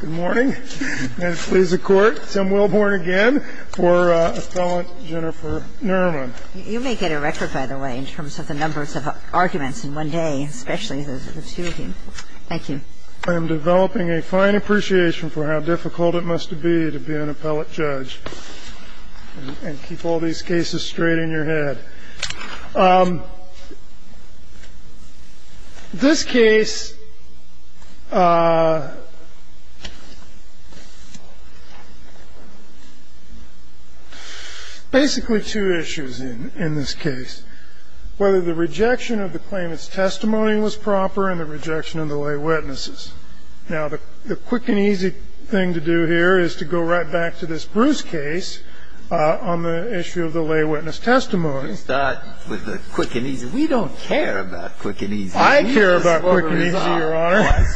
Good morning. And please, the Court, Tim Wilborn again for Appellant Jennifer Nerman. You may get a record, by the way, in terms of the numbers of arguments in one day, especially those of the two of you. Thank you. I am developing a fine appreciation for how difficult it must be to be an appellate judge and keep all these cases straight in your head. This case, basically, two issues in this case, whether the rejection of the claimant's testimony was proper and the rejection of the lay witnesses. Now, the quick and easy thing to do here is to go right back to this Bruce case on the issue of the lay witness testimony. Let's start with the quick and easy. We don't care about quick and easy. I care about quick and easy, Your Honor.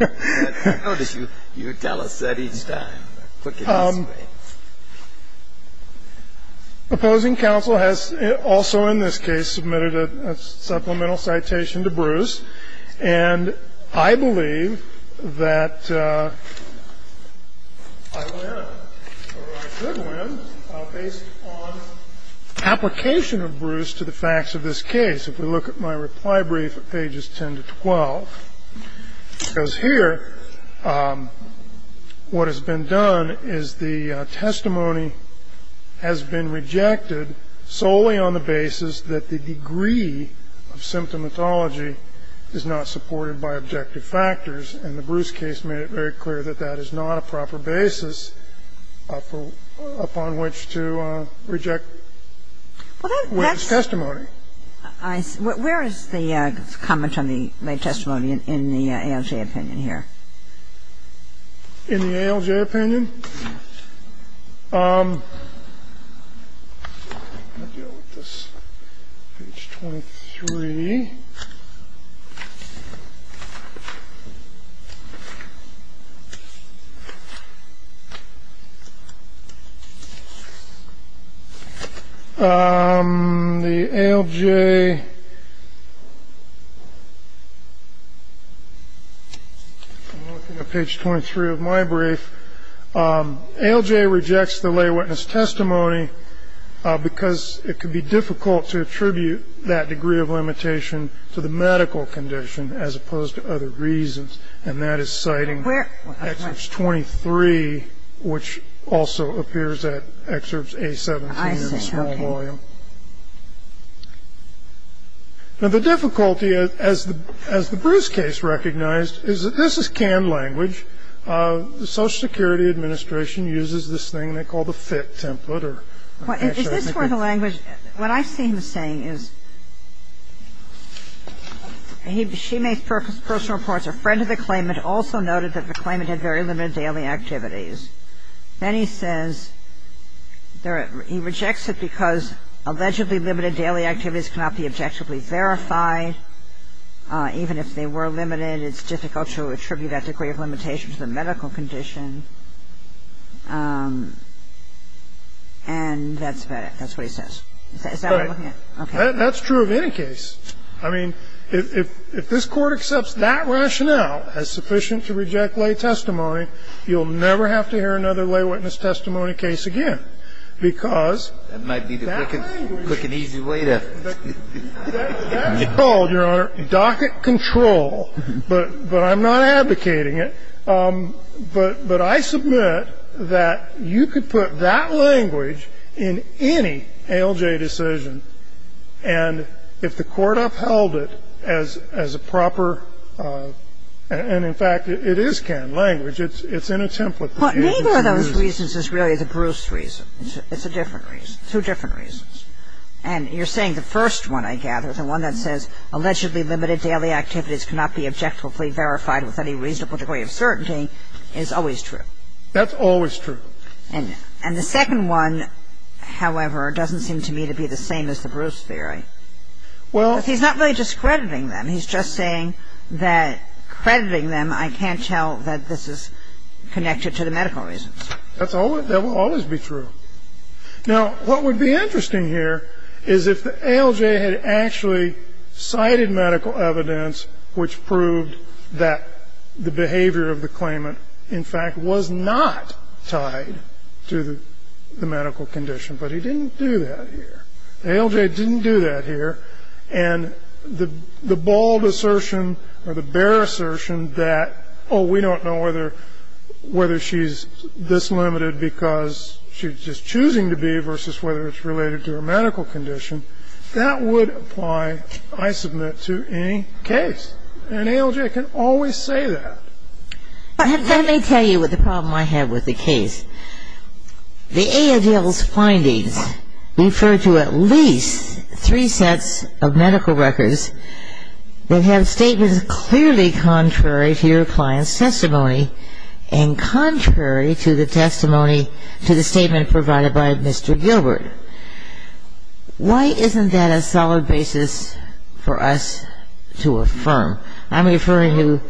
I notice you tell us that each time, quick and easy. Good morning. Opposing counsel has also in this case submitted a supplemental citation to Bruce, and I believe that I win or I could win based on application of Bruce to the facts of this case. If we look at my reply brief at pages 10 to 12, it goes here. What has been done is the testimony has been rejected solely on the basis that the degree of symptomatology is not supported by objective factors. And the Bruce case made it very clear that that is not a proper basis upon which to reject. Well, that's testimony. Where is the comment on the testimony in the ALJ opinion here? In the ALJ opinion? Page 23. The ALJ. I'm looking at page 23 of my brief. ALJ rejects the lay witness testimony because it could be difficult to attribute that degree of limitation to the medical condition as opposed to other reasons, and that is citing excerpts 23, which also appears at excerpts A17 in a small volume. Now, the difficulty, as the Bruce case recognized, is that this is canned language. The Social Security Administration uses this thing they call the FIT template. I'm looking at page 23 of my brief. I'm looking at page 23 of my brief. Is this where the language ñ what I see him saying is she makes personal reports. A friend of the claimant also noted that the claimant had very limited daily activities. Then he says he rejects it because allegedly limited daily activities cannot be objectively verified, even if they were limited, it's difficult to attribute that degree of limitation to the medical condition, and that's about it. That's what he says. Is that what I'm looking at? Okay. That's true of any case. I mean, if this Court accepts that rationale as sufficient to reject lay testimony, you'll never have to hear another lay witness testimony case again, because that language That might be the quick and easy way to ñ That's called, Your Honor, docket control, but I'm not advocating it. But I submit that you could put that language in any ALJ decision, and if the Court accepts that, then you have held it as a proper ñ and in fact, it is canned language. It's in a template. But neither of those reasons is really the Bruce reason. It's a different reason. Two different reasons. And you're saying the first one, I gather, the one that says allegedly limited daily activities cannot be objectively verified with any reasonable degree of certainty is always true. That's always true. And the second one, however, doesn't seem to me to be the same as the Bruce theory. Well ñ Because he's not really discrediting them. He's just saying that crediting them, I can't tell that this is connected to the medical reasons. That will always be true. Now, what would be interesting here is if the ALJ had actually cited medical evidence which proved that the behavior of the claimant, in fact, was not tied to the medical condition. But he didn't do that here. The ALJ didn't do that here. And the bald assertion or the bare assertion that, oh, we don't know whether she's this limited because she's just choosing to be versus whether it's related to her medical condition, that would apply, I submit, to any case. An ALJ can always say that. Let me tell you what the problem I have with the case. The ALJ's findings refer to at least three sets of medical records that have statements clearly contrary to your client's testimony and contrary to the testimony to the statement provided by Mr. Gilbert. Why isn't that a solid basis for us to affirm? I'm referring to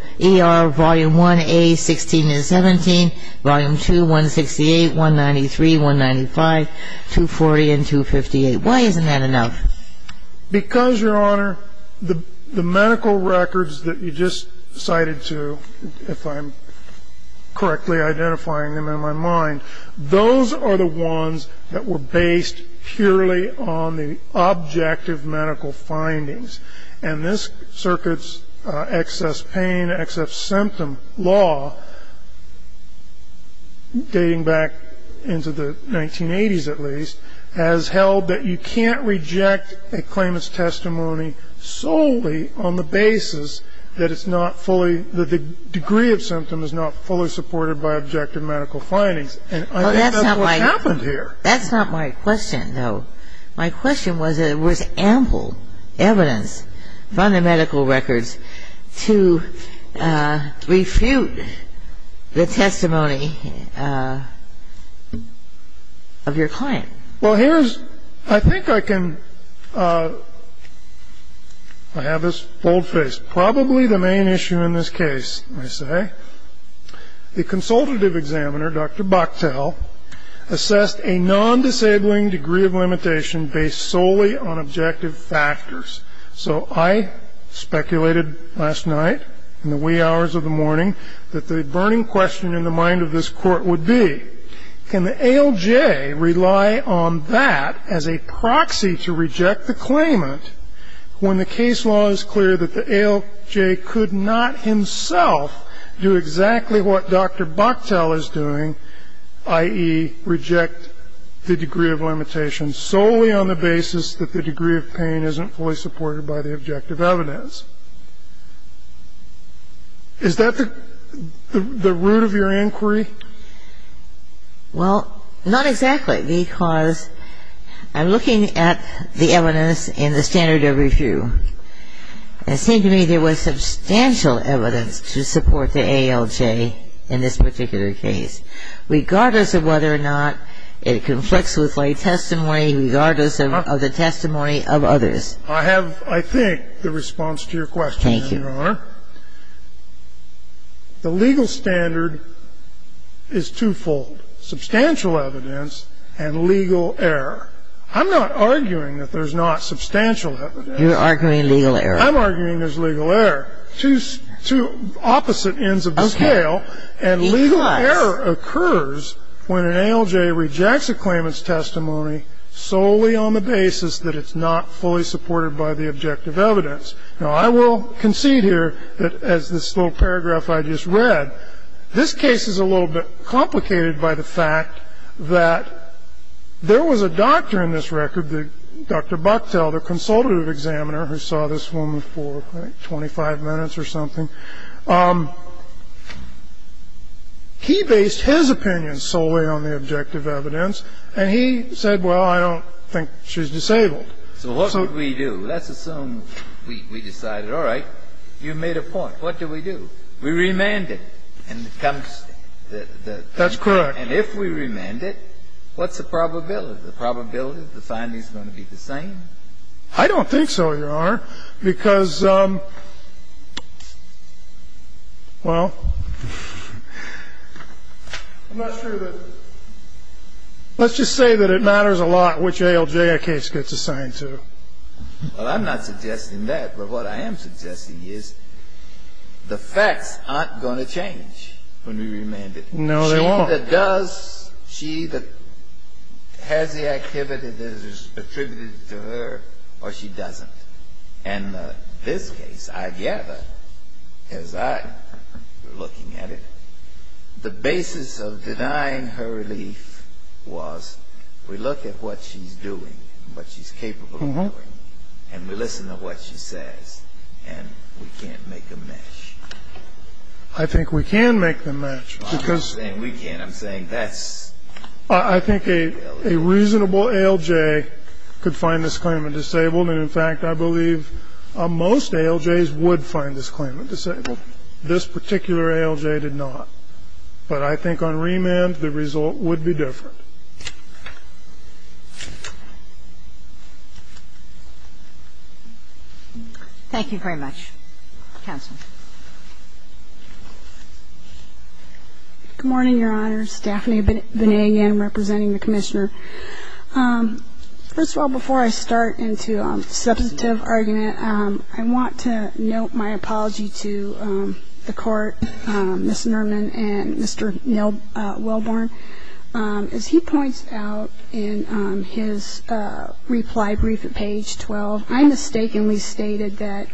ER Volume 1A, 16 and 17, Volume 2, 168, 193, 195, 240, and 258. Why isn't that enough? Because, Your Honor, the medical records that you just cited to, if I'm correctly identifying them in my mind, those are the ones that were based purely on the objective medical findings. And this circuit's excess pain, excess symptom law, dating back into the 1980s at least, has held that you can't reject a claimant's testimony solely on the basis that it's not fully, that the degree of symptom is not fully supported by objective medical findings. And I think that's what happened here. That's not my question, though. My question was that there was ample evidence from the medical records to refute the testimony of your client. Well, here's, I think I can, I have this boldface. It's probably the main issue in this case, I say. The consultative examiner, Dr. Bucktel, assessed a non-disabling degree of limitation based solely on objective factors. So I speculated last night in the wee hours of the morning that the burning question in the mind of this court would be, can the ALJ rely on that as a proxy to reject the claimant when the case law is clear that the ALJ could not himself do exactly what Dr. Bucktel is doing, i.e., reject the degree of limitation solely on the basis that the degree of pain isn't fully supported by the objective evidence? Is that the root of your inquiry? Well, not exactly, because I'm looking at the evidence in the standard of review. It seemed to me there was substantial evidence to support the ALJ in this particular case, regardless of whether or not it conflicts with my testimony, regardless of the testimony of others. I have, I think, the response to your question, Your Honor. Thank you. The legal standard is twofold, substantial evidence and legal error. I'm not arguing that there's not substantial evidence. You're arguing legal error. I'm arguing there's legal error. Two opposite ends of the scale. Okay. Because? And legal error occurs when an ALJ rejects a claimant's testimony solely on the basis that it's not fully supported by the objective evidence. Now, I will concede here that, as this little paragraph I just read, this case is a little bit complicated by the fact that there was a doctor in this record, Dr. Bucktel, the consultative examiner who saw this woman for, I think, 25 minutes or something. He based his opinion solely on the objective evidence. And he said, well, I don't think she's disabled. So what would we do? Let's assume we decided, all right, you made a point. What do we do? We remand it. That's correct. And if we remand it, what's the probability? The probability that the findings are going to be the same? I don't think so, Your Honor, because, well, I'm not sure that we're going to have Let's just say that it matters a lot which ALJ our case gets assigned to. Well, I'm not suggesting that. But what I am suggesting is the facts aren't going to change when we remand it. No, they won't. She that does, she that has the activity that is attributed to her, or she doesn't. And this case, I gather, as I'm looking at it, the basis of denying her relief was we look at what she's doing, what she's capable of doing, and we listen to what she says, and we can't make them match. I think we can make them match. I'm not saying we can't. I'm saying that's the reality. I think a reasonable ALJ could find this claimant disabled. And, in fact, I believe most ALJs would find this claimant disabled. This particular ALJ did not. But I think on remand, the result would be different. Thank you very much. Counsel. Good morning, Your Honor. Stephanie Benignan representing the Commissioner. First of all, before I start into substantive argument, I want to note my apology to the Court, Ms. Nerman and Mr. Welborn. As he points out in his reply brief at page 12, I mistakenly stated that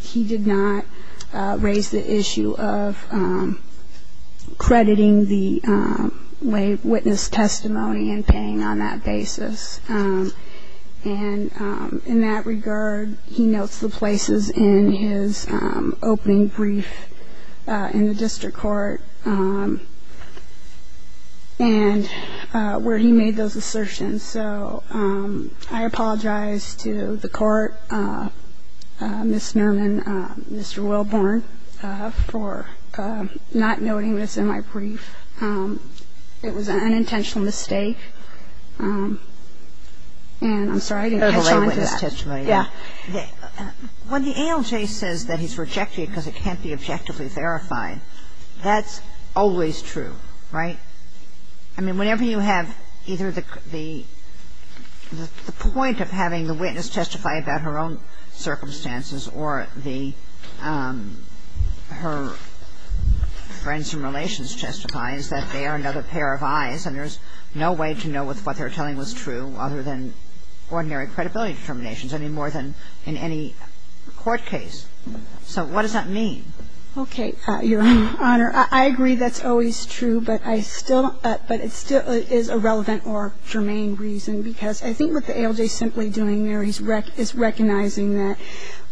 he did not raise the issue of crediting the lay witness testimony and paying on that basis. And in that regard, he notes the places in his opening brief in the district court and where he made those assertions. So I apologize to the Court, Ms. Nerman, Mr. Welborn, for not noting this in my brief. It was an unintentional mistake. And I'm sorry, I didn't catch on to that. Yeah. When the ALJ says that he's rejecting it because it can't be objectively verified, that's always true, right? I mean, whenever you have either the point of having the witness testify about her own circumstances or the her friends and relations testify, is that they are another pair of eyes and there's no way to know if what they're telling was true other than ordinary credibility determinations, I mean, more than in any court case. So what does that mean? Okay, Your Honor. I agree that's always true, but I still don't – but it still is a relevant or germane reason because I think what the ALJ is simply doing there is recognizing that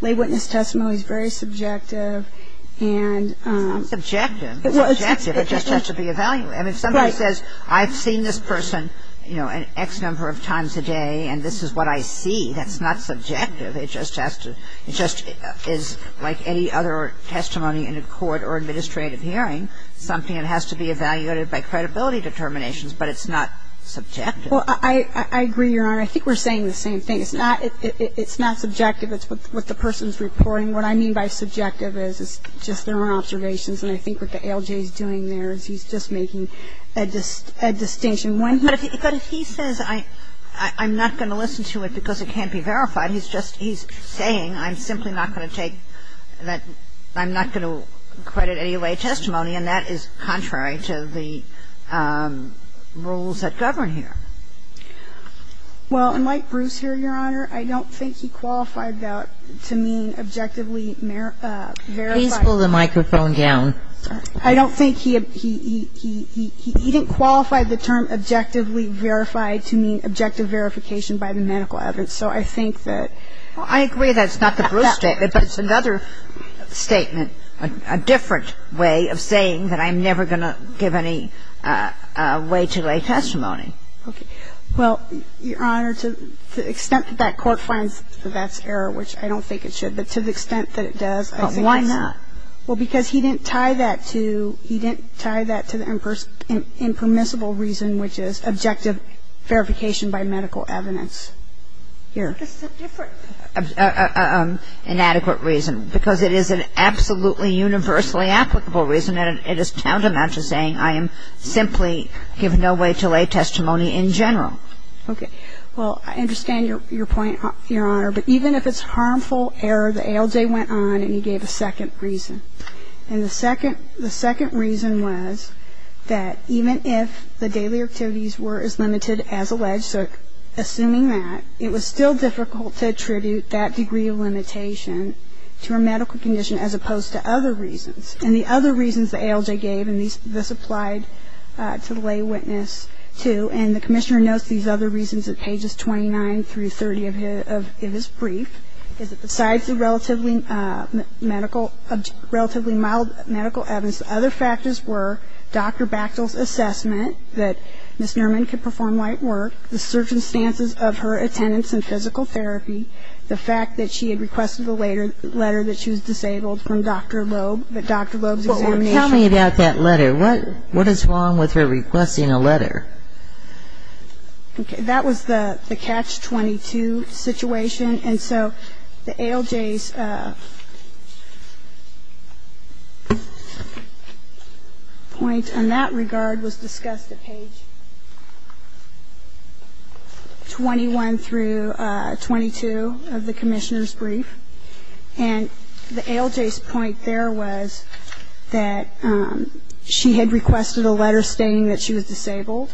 lay witness testimony is very subjective and It's not subjective. It's subjective. It just has to be evaluated. I mean, if somebody says I've seen this person, you know, an X number of times a day and this is what I see, that's not subjective. It just has to – it just is like any other testimony in a court or administrative hearing, something that has to be evaluated by credibility determinations, but it's not subjective. Well, I agree, Your Honor. I think we're saying the same thing. It's not – it's not subjective. It's what the person's reporting. What I mean by subjective is it's just their own observations, and I think what the ALJ is doing there is he's just making a distinction. But if he says I'm not going to listen to it because it can't be verified, he's just – he's saying I'm simply not going to take that – I'm not going to credit any lay testimony, and that is contrary to the rules that govern here. Well, unlike Bruce here, Your Honor, I don't think he qualified that to mean objectively verified. Please pull the microphone down. I don't think he – he didn't qualify the term objectively verified to mean objective verification by the medical evidence. So I think that – Well, I agree that's not the Bruce statement, but it's another statement, a different way of saying that I'm never going to give any way to lay testimony. Okay. Well, Your Honor, to the extent that that court finds that that's error, which I don't think it should, but to the extent that it does, I think it's – But why not? Well, because he didn't tie that to – he didn't tie that to the impermissible reason, which is objective verification by medical evidence. Here. This is a different inadequate reason, because it is an absolutely universally applicable reason, and it is tantamount to saying I am simply given no way to lay testimony in general. Okay. Well, I understand your point, Your Honor, but even if it's harmful error, the ALJ went on and he gave a second reason. And the second – the second reason was that even if the daily activities were as limited as alleged, so assuming that, it was still difficult to attribute that degree of limitation to a medical condition as opposed to other reasons. And the other reasons the ALJ gave, and this applied to the lay witness too, and the Commissioner notes these other reasons at pages 29 through 30 of his brief, is that besides the relatively medical – relatively mild medical evidence, the other factors were Dr. Bachtel's assessment that Ms. Nerman could perform light work, the circumstances of her attendance in physical therapy, the fact that she had requested a letter that she was disabled from Dr. Loeb, that Dr. Loeb's examination – Well, tell me about that letter. What is wrong with her requesting a letter? Okay. That was the catch-22 situation. And so the ALJ's point in that regard was discussed at page 21 through 22 of the Commissioner's brief. And the ALJ's point there was that she had requested a letter stating that she was disabled,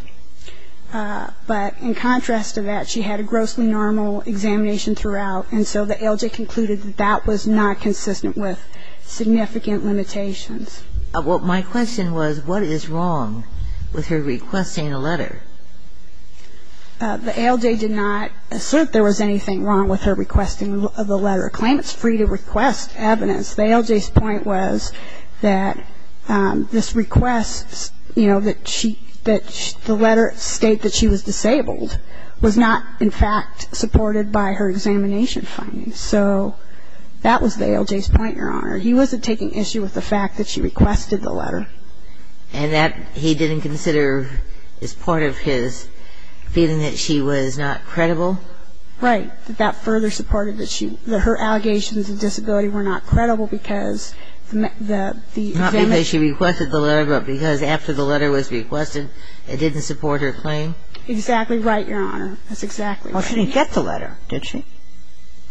but in contrast to that, she had a grossly normal examination throughout, and so the ALJ concluded that that was not consistent with significant limitations. Well, my question was, what is wrong with her requesting a letter? The ALJ did not assert there was anything wrong with her requesting the letter. It claims it's free to request evidence. The ALJ's point was that this request that the letter state that she was disabled was not in fact supported by her examination findings. So that was the ALJ's point, Your Honor. He wasn't taking issue with the fact that she requested the letter. And that he didn't consider as part of his feeling that she was not credible? Right. That further supported that her allegations of disability were not credible because the... Not because she requested the letter, but because after the letter was requested, it didn't support her claim? Exactly right, Your Honor. That's exactly right. Well, she didn't get the letter, did she?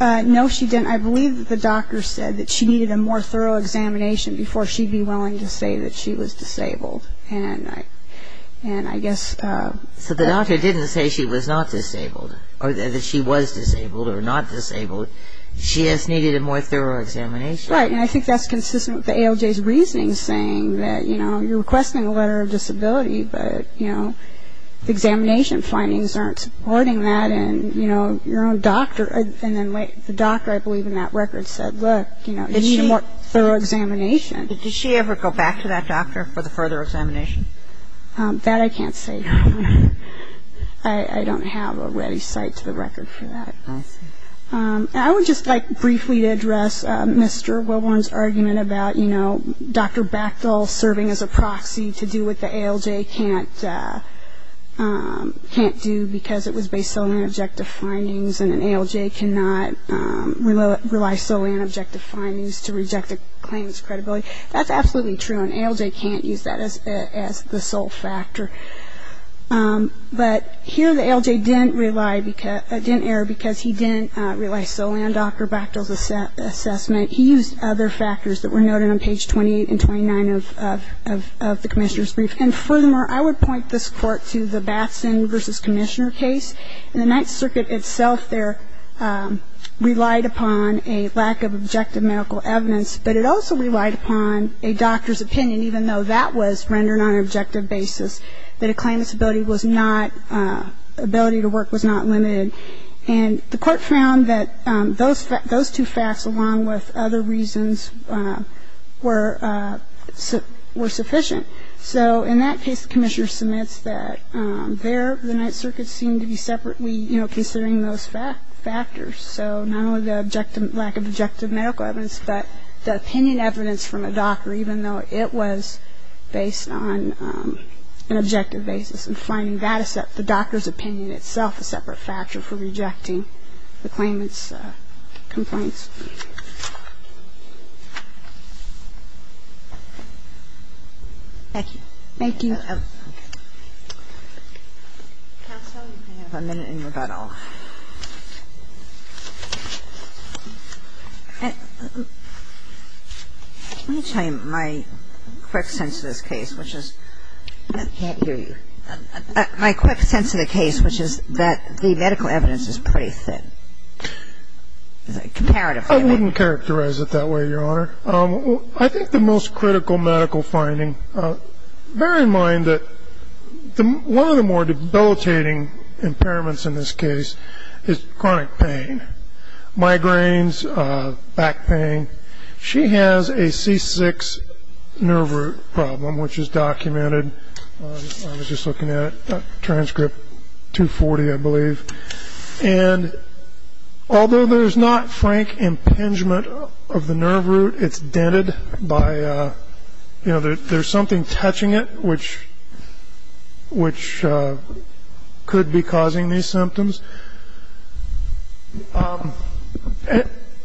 No, she didn't. I believe that the doctor said that she needed a more thorough examination before she'd be willing to say that she was disabled. And I guess... So the doctor didn't say she was not disabled or that she was disabled or not disabled. She just needed a more thorough examination? Right. And I think that's consistent with the ALJ's reasoning saying that, you know, you're requesting a letter of disability, but, you know, the examination findings aren't supporting that and, you know, your own doctor... And then the doctor, I believe, in that record said, look, you need a more thorough examination. Did she ever go back to that doctor for the further examination? That I can't say, Your Honor. I don't have a ready cite to the record for that. I see. I would just like briefly to address Mr. Wilborn's argument about, you know, Dr. Bachtel serving as a proxy to do what the ALJ can't do because it was based solely on objective findings and an ALJ cannot rely solely on objective findings to reject a claim's credibility. That's absolutely true. An ALJ can't use that as the sole factor. But here the ALJ didn't rely, didn't err because he didn't rely solely on Dr. Bachtel's assessment. He used other factors that were noted on page 28 and 29 of the Commissioner's Brief. And furthermore, I would point this Court to the Batson v. Commissioner case. And the Ninth Circuit itself there relied upon a lack of objective medical evidence, but it also relied upon a doctor's opinion, even though that was rendered on an objective basis, that a claimant's ability was not, ability to work was not limited. And the Court found that those two facts along with other reasons were sufficient. So in that case, the Commissioner submits that there the Ninth Circuit seemed to be separately, you know, considering those factors. So not only the objective, lack of objective medical evidence, but the opinion evidence from a doctor even though it was based on an objective basis and finding that the doctor's opinion itself a separate factor for rejecting the claimant's complaints. Thank you. Thank you. Counsel, you have a minute in rebuttal. Let me tell you my quick sense of this case, which is the medical evidence is pretty thin. Comparatively. I wouldn't characterize it that way, Your Honor. I think the most critical medical finding, bear in mind that one of the more debilitating impairments in this case is chronic pain, migraines, back pain. She has a C6 nerve root problem, which is documented. I was just looking at it, transcript 240, I believe. And although there's not frank impingement of the nerve root, it's dented by, you know, there's something touching it, which could be causing these symptoms.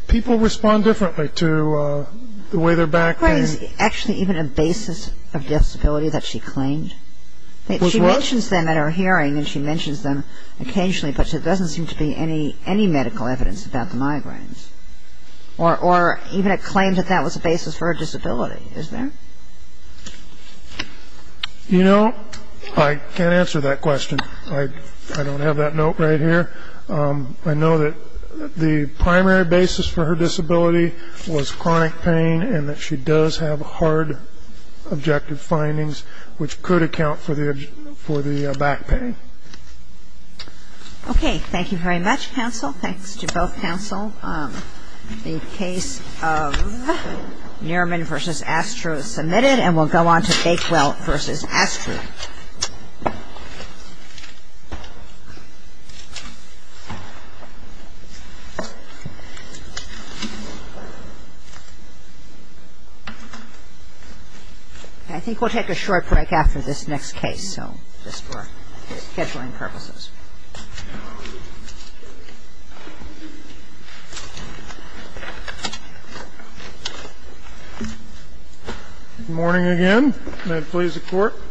People respond differently to the way their back pain. Actually, even a basis of disability that she claimed. She mentions them at her hearing and she mentions them occasionally, but there doesn't seem to be any medical evidence about the migraines. Or even a claim that that was the basis for her disability, is there? You know, I can't answer that question. I don't have that note right here. I know that the primary basis for her disability was chronic pain and that she does have hard objective findings, which could account for the back pain. Okay. Thank you very much, counsel. Thanks to both counsel. The case of Nerman v. Astro is submitted, and we'll go on to Bakewell v. Astro. I think we'll take a short break after this next case, so just for scheduling purposes. Thank you. Good morning again.